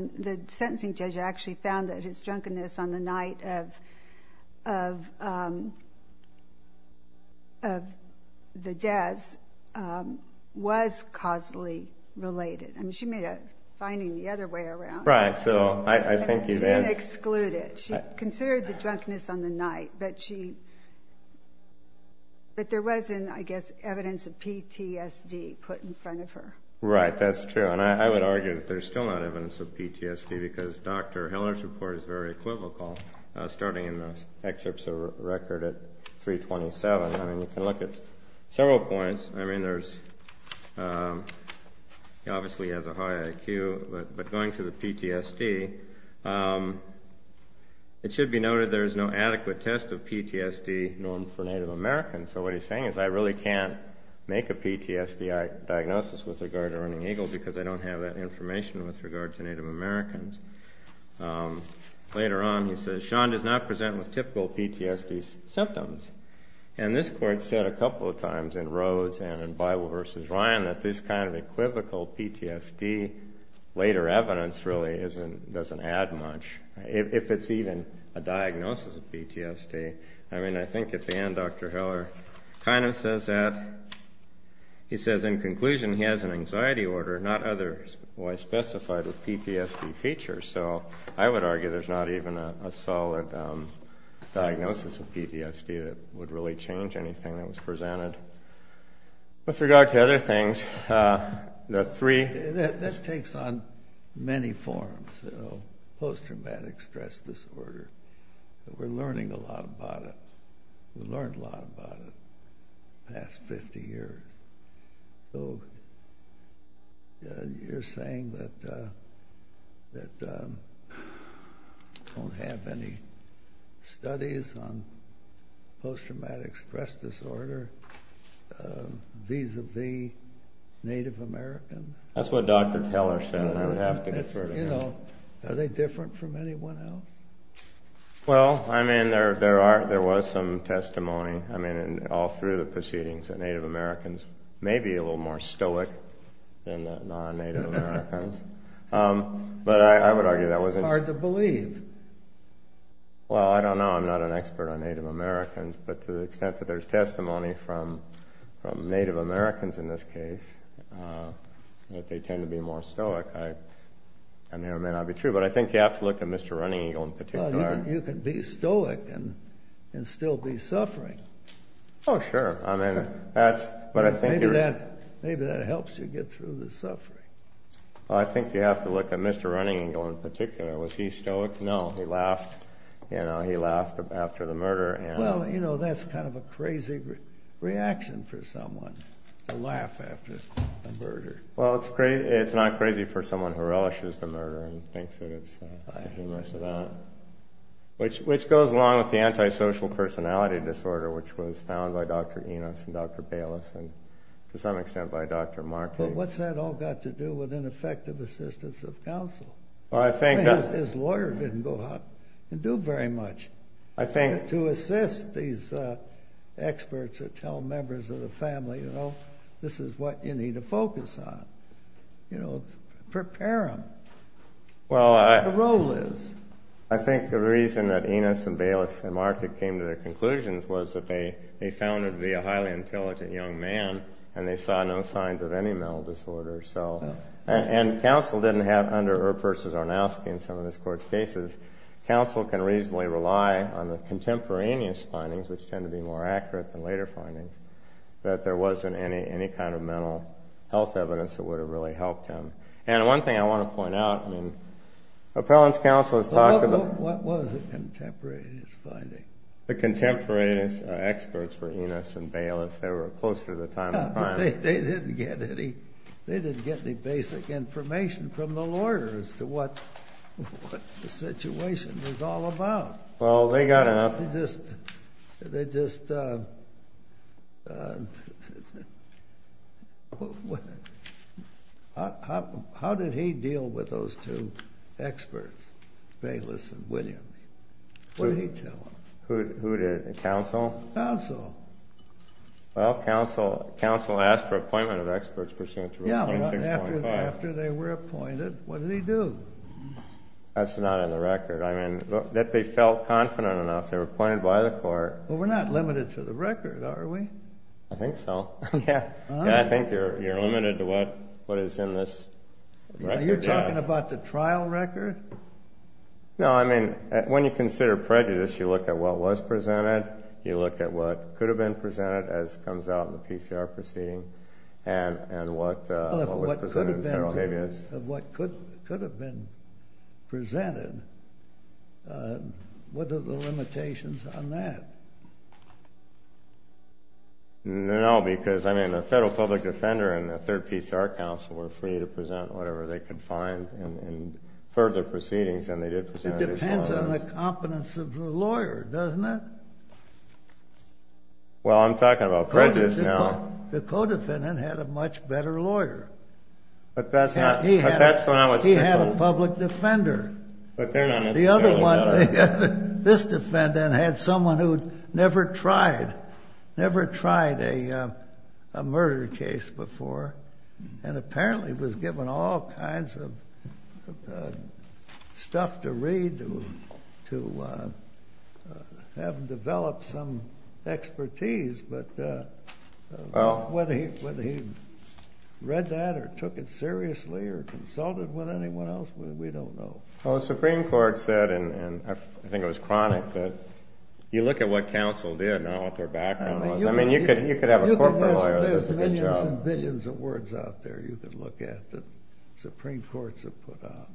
night of the deaths was causally related. I mean, she made a finding the other way around. Right, so I think it is. She didn't exclude it. She considered the drunkenness on the night. But there wasn't, I guess, evidence of PTSD put in front of her. Right, that's true. And I would argue that there's still not evidence of PTSD because Dr. Hiller's report is very equivocal, starting in the excerpts of the record at 327. I mean, you can look at several points. I mean, he obviously has a high IQ. But going to the PTSD, it should be noted there is no adequate test of PTSD known for Native Americans. So what he's saying is I really can't make a PTSD diagnosis with regard to Ernie Eagle because I don't have that information with regard to Native Americans. Later on, he says, Sean does not present with typical PTSD symptoms. And this court said a couple of times in Rhodes and in Bible v. Ryan that this kind of equivocal PTSD later evidence really doesn't add much, if it's even a diagnosis of PTSD. I mean, I think at the end Dr. Hiller kind of says that. He says, in conclusion, he has an anxiety order, not otherwise specified with PTSD features. So I would argue there's not even a solid diagnosis of PTSD that would really change anything that was presented. With regard to other things, there are three. This takes on many forms, post-traumatic stress disorder. We're learning a lot about it. We learned a lot about it the past 50 years. So you're saying that we don't have any studies on post-traumatic stress disorder vis-a-vis Native Americans? That's what Dr. Hiller said. Are they different from anyone else? Well, I mean, there was some testimony all through the proceedings that Native Americans may be a little more stoic than non-Native Americans. But I would argue that wasn't true. It's hard to believe. Well, I don't know. I'm not an expert on Native Americans. But to the extent that there's testimony from Native Americans in this case, that they tend to be more stoic, that may or may not be true. But I think you have to look at Mr. Running Eagle in particular. Well, you can be stoic and still be suffering. Oh, sure. Maybe that helps you get through the suffering. I think you have to look at Mr. Running Eagle in particular. Was he stoic? No. He laughed. He laughed after the murder. Well, that's kind of a crazy reaction for someone to laugh after a murder. Well, it's not crazy for someone who relishes the murder and thinks that it's a humorous event. Which goes along with the antisocial personality disorder, which was found by Dr. Enos and Dr. Bayless and, to some extent, by Dr. Markey. But what's that all got to do with ineffective assistance of counsel? His lawyer didn't go out and do very much to assist these experts or tell members of the family, you know, this is what you need to focus on. Prepare them. What the role is? I think the reason that Enos and Bayless and Markey came to their conclusions was that they found him to be a highly intelligent young man and they saw no signs of any mental disorder. And counsel didn't have, under Earp v. Arnowski in some of this Court's cases, counsel can reasonably rely on the contemporaneous findings, which tend to be more accurate than later findings, that there wasn't any kind of mental health evidence that would have really helped him. And one thing I want to point out, appellant's counsel has talked about... What was the contemporaneous finding? The contemporaneous experts were Enos and Bayless. They were closer to the time of crime. They didn't get any basic information from the lawyer as to what the situation was all about. Well, they got enough... They just... How did he deal with those two experts, Bayless and Williams? What did he tell them? Who did? Counsel? Counsel. Well, counsel asked for appointment of experts pursuant to Rule 26.5. Yeah, but after they were appointed, what did he do? That's not in the record. I mean, that they felt confident enough. They were appointed by the Court. Well, we're not limited to the record, are we? I think so. I think you're limited to what is in this record. You're talking about the trial record? No, I mean, when you consider prejudice, you look at what was presented, you look at what could have been presented, as comes out in the PCR proceeding, and what was presented in feral habeas. Yes. Of what could have been presented. What are the limitations on that? No, because, I mean, a federal public defender and a third PCR counsel were free to present whatever they could find in further proceedings, and they did present it as well. It depends on the competence of the lawyer, doesn't it? Well, I'm talking about prejudice now. The co-defendant had a much better lawyer. But that's not what's different. He had a public defender. But they're not necessarily. This defendant had someone who never tried a murder case before and apparently was given all kinds of stuff to read, to have him develop some expertise. But whether he read that or took it seriously or consulted with anyone else, we don't know. Well, the Supreme Court said, and I think it was chronic, that you look at what counsel did, not what their background was. I mean, you could have a corporate lawyer that does a good job. There's millions and billions of words out there you could look at that Supreme Courts have put out.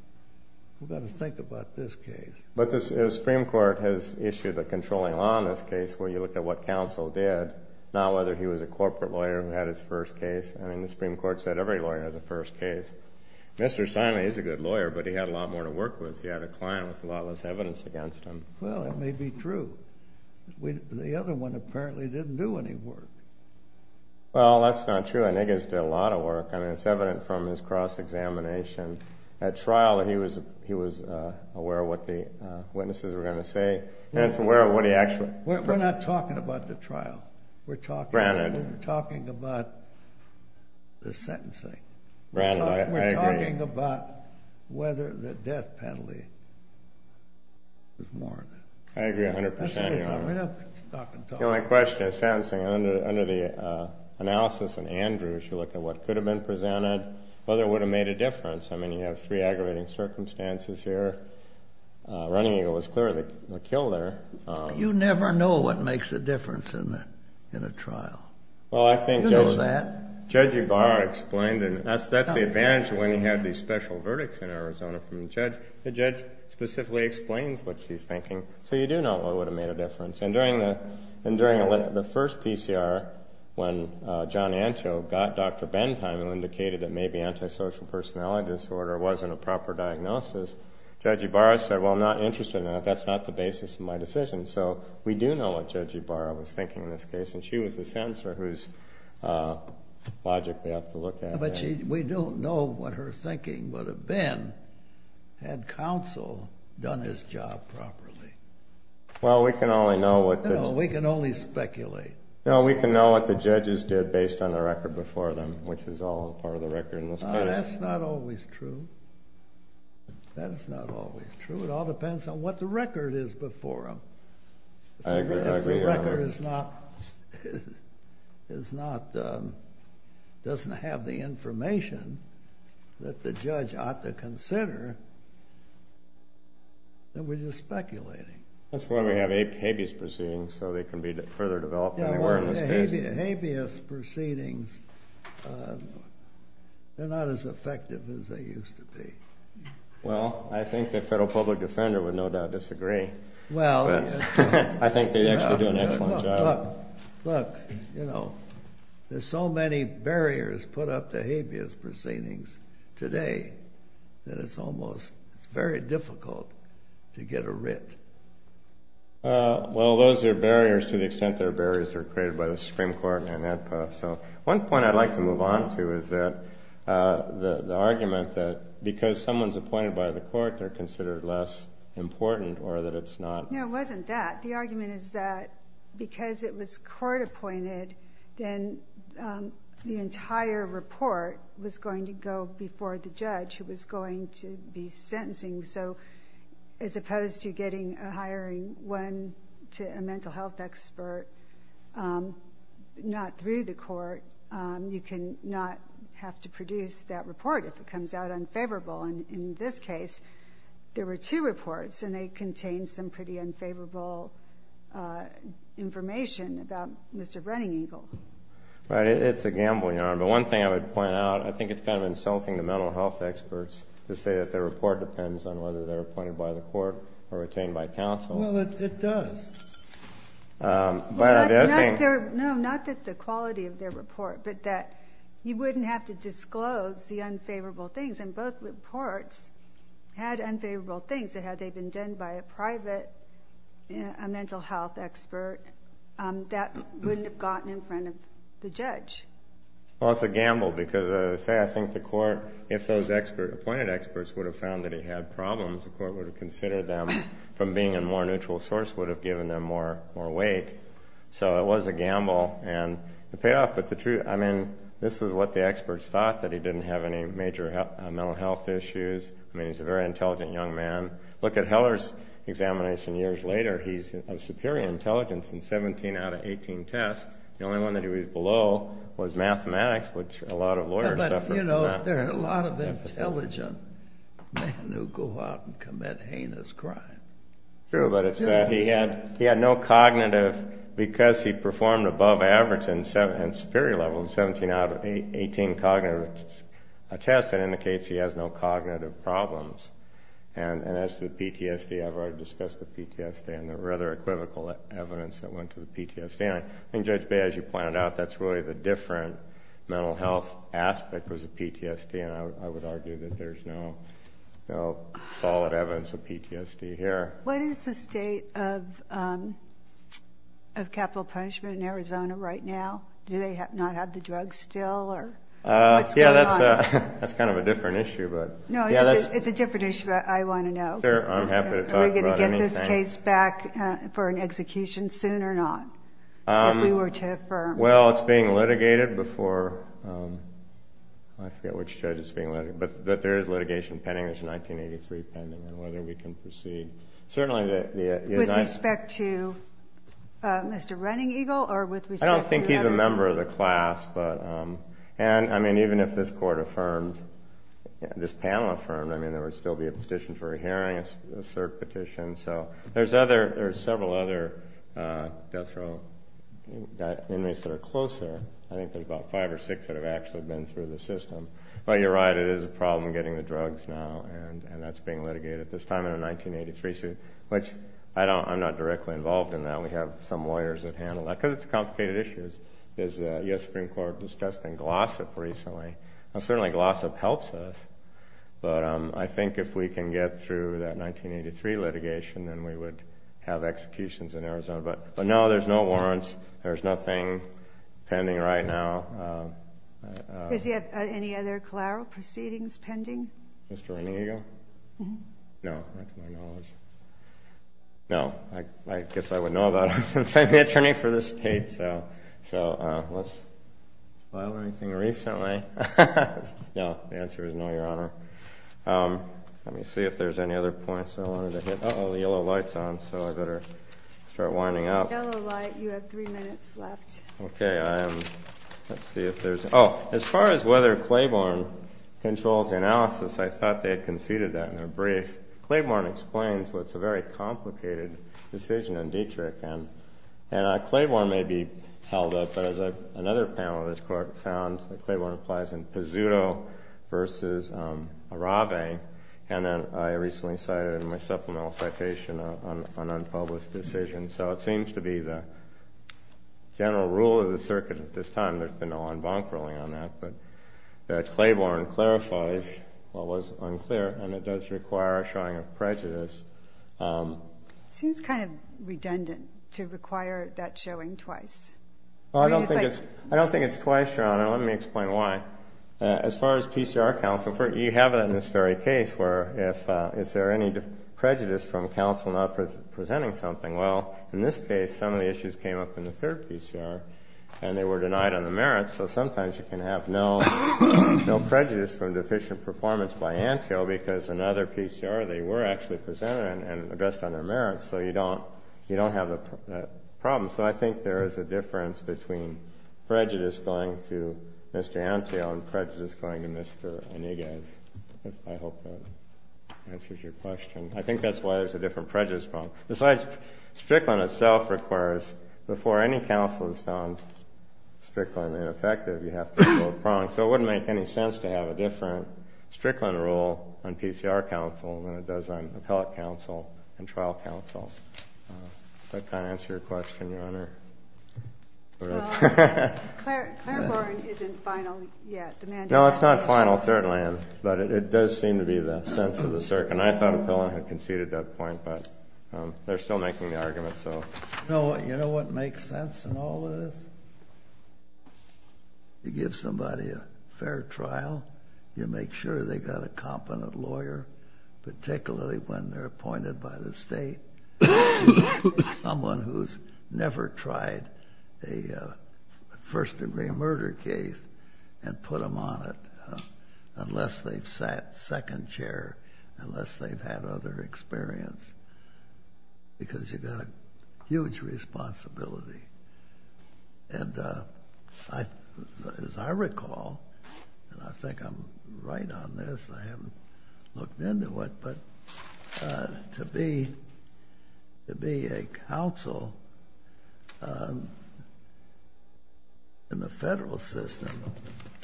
We've got to think about this case. But the Supreme Court has issued a controlling law in this case where you look at what counsel did, not whether he was a corporate lawyer who had his first case. I mean, the Supreme Court said every lawyer has a first case. Mr. Steinle, he's a good lawyer, but he had a lot more to work with. He had a client with a lot less evidence against him. Well, it may be true. The other one apparently didn't do any work. Well, that's not true. I think he's done a lot of work. I mean, it's evident from his cross-examination at trial that he was aware of what the witnesses were going to say. We're not talking about the trial. We're talking about the sentencing. We're talking about whether the death penalty was more of it. I agree 100%. The only question is, under the analysis in Andrews, you look at what could have been presented, whether it would have made a difference. I mean, you have three aggravating circumstances here. Running Eagle was clearly a kill there. You never know what makes a difference in a trial. Well, I think Judge Ibarra explained it. That's the advantage of when you have these special verdicts in Arizona from a judge. The judge specifically explains what she's thinking, so you do know what would have made a difference. And during the first PCR, when John Antio got Dr. Bentheim and indicated that maybe antisocial personality disorder wasn't a proper diagnosis, Judge Ibarra said, well, I'm not interested in that. That's not the basis of my decision. So we do know what Judge Ibarra was thinking in this case, and she was the sentencer whose logic we have to look at. But we don't know what her thinking would have been had counsel done his job properly. Well, we can only know what the... We can only speculate. No, we can know what the judges did based on the record before them, which is all part of the record in this case. Well, that's not always true. That's not always true. It all depends on what the record is before them. I agree. If the record is not, doesn't have the information that the judge ought to consider, then we're just speculating. That's why we have habeas proceedings, so they can be further developed anywhere in this case. Habeas proceedings, they're not as effective as they used to be. Well, I think the federal public defender would no doubt disagree. I think they actually do an excellent job. Look, there's so many barriers put up to habeas proceedings today that it's almost very difficult to get a writ. Well, those are barriers to the extent they're barriers that were created by the Supreme Court. One point I'd like to move on to is the argument that because someone's appointed by the court, they're considered less important or that it's not. No, it wasn't that. The argument is that because it was court appointed, then the entire report was going to go before the judge who was going to be sentencing, so as opposed to getting a hiring one to a mental health expert not through the court, you can not have to produce that report if it comes out unfavorable. And in this case, there were two reports, and they contained some pretty unfavorable information about Mr. Brenningingel. Right. It's a gamble, Your Honor. But one thing I would point out, I think it's kind of insulting to mental health experts to say that their report depends on whether they're appointed by the court or retained by counsel. Well, it does. No, not that the quality of their report, but that you wouldn't have to disclose the unfavorable things, and both reports had unfavorable things. Had they been done by a private mental health expert, that wouldn't have gotten in front of the judge. Well, it's a gamble because, say, I think the court, if those appointed experts would have found that he had problems, the court would have considered them from being a more neutral source, would have given them more weight. So it was a gamble, and it paid off. But the truth, I mean, this is what the experts thought, that he didn't have any major mental health issues. I mean, he's a very intelligent young man. Look at Heller's examination years later. He's of superior intelligence in 17 out of 18 tests. The only one that he was below was mathematics, which a lot of lawyers suffer from that. But, you know, there are a lot of intelligent men who go out and commit heinous crimes. True, but it's that he had no cognitive, because he performed above average and superior level in 17 out of 18 cognitive tests, that indicates he has no cognitive problems. And as to the PTSD, I've already discussed the PTSD, and there were other equivocal evidence that went to the PTSD. I think Judge Bay, as you pointed out, that's really the different mental health aspect was the PTSD, and I would argue that there's no solid evidence of PTSD here. What is the state of capital punishment in Arizona right now? Do they not have the drugs still, or what's going on? Yeah, that's kind of a different issue. No, it's a different issue, but I want to know. Sure, I'm happy to talk about anything. Is this case back for an execution soon or not, if we were to affirm? Well, it's being litigated before—I forget which judge it's being litigated— but there is litigation pending. There's a 1983 pending on whether we can proceed. Certainly the— With respect to Mr. Running Eagle or with respect to— I don't think he's a member of the class, but— and, I mean, even if this court affirmed, this panel affirmed, I mean, there would still be a petition for a hearing, a cert petition. So there's several other death row inmates that are closer. I think there's about five or six that have actually been through the system. But you're right, it is a problem getting the drugs now, and that's being litigated at this time in a 1983 suit, which I'm not directly involved in that. We have some lawyers that handle that because it's complicated issues. The U.S. Supreme Court discussed in Glossop recently. Certainly Glossop helps us. But I think if we can get through that 1983 litigation, then we would have executions in Arizona. But, no, there's no warrants. There's nothing pending right now. Does he have any other collateral proceedings pending? Mr. Running Eagle? No, to my knowledge. No. I guess I would know about him since I'm the attorney for the state. Let's see if there's any other points I wanted to hit. Uh-oh, the yellow light's on, so I better start winding up. The yellow light, you have three minutes left. Okay, let's see if there's any other points. Oh, as far as whether Claiborne controls the analysis, I thought they had conceded that in their brief. Claiborne explains what's a very complicated decision in Dietrich. And Claiborne may be brief, but as another panel of this court found, Claiborne applies in Pizzuto v. Arave. And I recently cited in my supplemental citation an unpublished decision. So it seems to be the general rule of the circuit at this time. There's been no en banc ruling on that. But Claiborne clarifies what was unclear, and it does require a showing of prejudice. It seems kind of redundant to require that showing twice. I don't think it's twice, Your Honor. Let me explain why. As far as PCR counts, you have it in this very case, where is there any prejudice from counsel not presenting something? Well, in this case, some of the issues came up in the third PCR, and they were denied on the merits. So sometimes you can have no prejudice from deficient performance by ANTIO because in other PCR they were actually presented and addressed on their merits. So you don't have that problem. So I think there is a difference between prejudice going to Mr. ANTIO and prejudice going to Mr. Iniguez. I hope that answers your question. I think that's why there's a different prejudice problem. Besides, Strickland itself requires, before any counsel has found Strickland ineffective, you have to rule it wrong. So it wouldn't make any sense to have a different Strickland rule on PCR counsel than it does on appellate counsel and trial counsel. Does that kind of answer your question, Your Honor? Clareborn isn't final yet. No, it's not final, certainly. But it does seem to be the sense of the circuit. And I thought Appellant had conceded that point, but they're still making the argument. You know what makes sense in all this? You give somebody a fair trial. You make sure they've got a competent lawyer, particularly when they're appointed by the state, someone who's never tried a first-degree murder case and put them on it unless they've sat second chair, unless they've had other experience, because you've got a huge responsibility. And as I recall, and I think I'm right on this, I haven't looked into it, but to be a counsel in the federal system,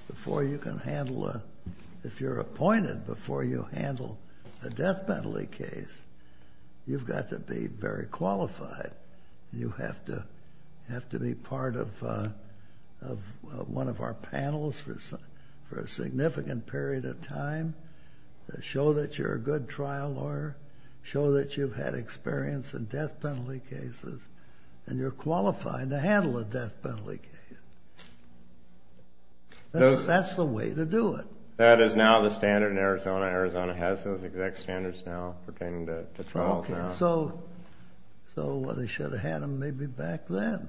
if you're appointed before you handle a death penalty case, you've got to be very qualified. You have to be part of one of our panels for a significant period of time to show that you're a good trial lawyer, show that you've had experience in death penalty cases, and you're qualified to handle a death penalty case. That's the way to do it. That is now the standard in Arizona. Arizona has those exact standards now pertaining to trials. So they should have had them maybe back then.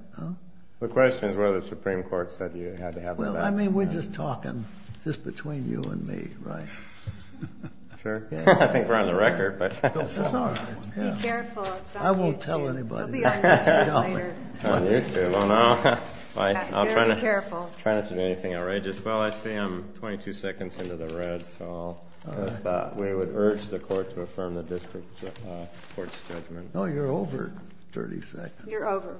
The question is whether the Supreme Court said you had to have them back then. Well, I mean, we're just talking just between you and me, right? Sure. I think we're on the record. Be careful. It's on YouTube. I won't tell anybody. It'll be on YouTube later. It's on YouTube. I'll try not to do anything outrageous. Well, I see I'm 22 seconds into the red, so we would urge the court to affirm the district court's judgment. Oh, you're over 30 seconds. You're over.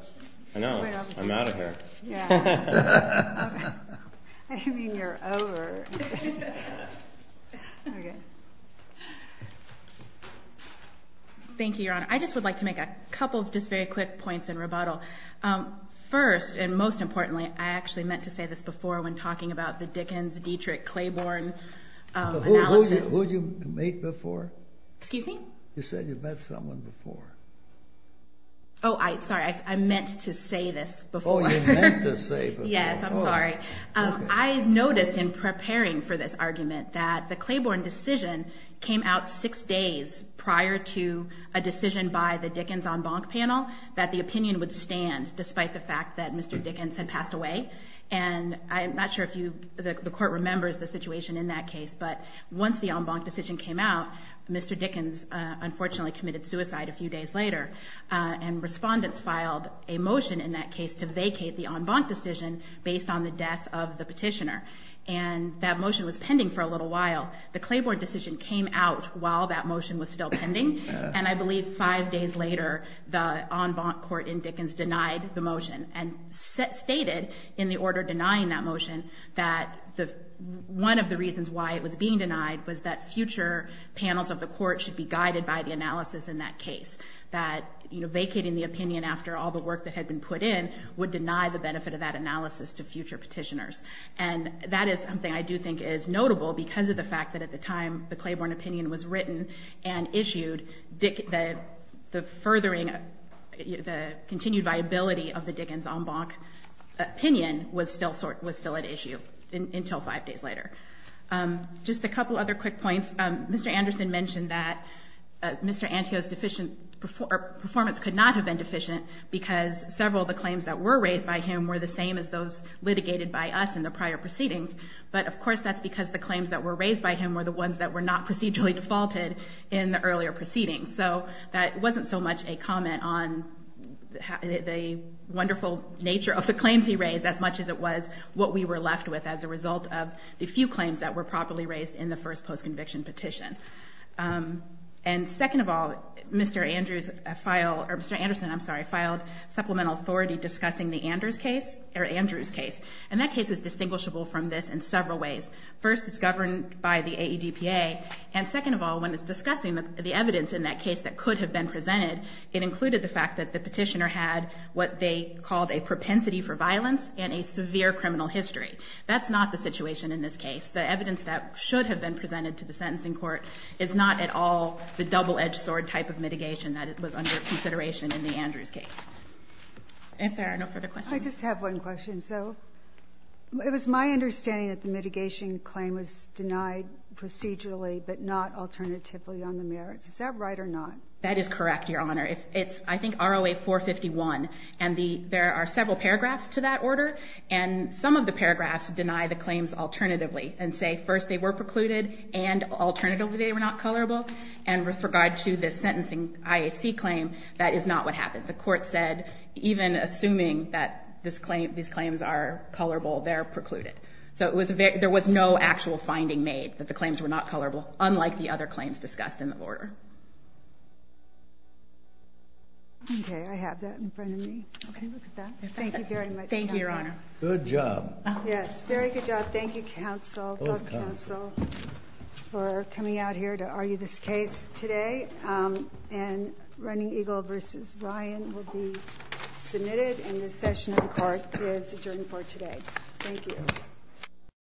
I know. I'm out of here. Yeah. I didn't mean you're over. Okay. Thank you, Your Honor. I just would like to make a couple of just very quick points in rebuttal. I actually meant to say this before when talking about the Dickens, Dietrich, Claiborne analysis. Who did you meet before? Excuse me? You said you met someone before. Oh, sorry. I meant to say this before. Oh, you meant to say before. Yes. I'm sorry. I noticed in preparing for this argument that the Claiborne decision came out six days prior to a decision by the Dickens en banc panel that the opinion would stand despite the fact that Mr. Dickens had passed away. I'm not sure if the court remembers the situation in that case, but once the en banc decision came out, Mr. Dickens unfortunately committed suicide a few days later. Respondents filed a motion in that case to vacate the en banc decision based on the death of the petitioner. That motion was pending for a little while. The Claiborne decision came out while that motion was still pending, and I believe five days later the en banc court in Dickens denied the motion and stated in the order denying that motion that one of the reasons why it was being denied was that future panels of the court should be guided by the analysis in that case, that vacating the opinion after all the work that had been put in would deny the benefit of that analysis to future petitioners. And that is something I do think is notable because of the fact that at the time the Claiborne opinion was written and issued, the furthering, the continued viability of the Dickens en banc opinion was still at issue until five days later. Just a couple other quick points. Mr. Anderson mentioned that Mr. Antio's performance could not have been deficient because several of the claims that were raised by him were the same as those litigated by us in the prior proceedings, but of course that's because the claims that were raised by him were the ones that were not procedurally defaulted in the earlier proceedings. So that wasn't so much a comment on the wonderful nature of the claims he raised as much as it was what we were left with as a result of the few claims that were properly raised in the first post-conviction petition. And second of all, Mr. Anderson filed supplemental authority discussing Andrew's case, and that case is distinguishable from this in several ways. First, it's governed by the AEDPA, and second of all, when it's discussing the evidence in that case that could have been presented, it included the fact that the petitioner had what they called a propensity for violence and a severe criminal history. That's not the situation in this case. The evidence that should have been presented to the sentencing court is not at all the double-edged sword type of mitigation that was under consideration in the Andrews case. If there are no further questions. I just have one question. So it was my understanding that the mitigation claim was denied procedurally but not alternatively on the merits. Is that right or not? That is correct, Your Honor. It's I think ROA 451, and there are several paragraphs to that order, and some of the paragraphs deny the claims alternatively and say first they were precluded and alternatively they were not colorable. And with regard to the sentencing IAC claim, that is not what happened. The court said even assuming that these claims are colorable, they're precluded. So there was no actual finding made that the claims were not colorable, unlike the other claims discussed in the order. Okay. I have that in front of me. Okay. Thank you very much. Thank you, Your Honor. Good job. Yes, very good job. Thank you, counsel, both counsel, for coming out here to argue this case today and Running Eagle v. Ryan will be submitted, and this session of the court is adjourned for today. Thank you.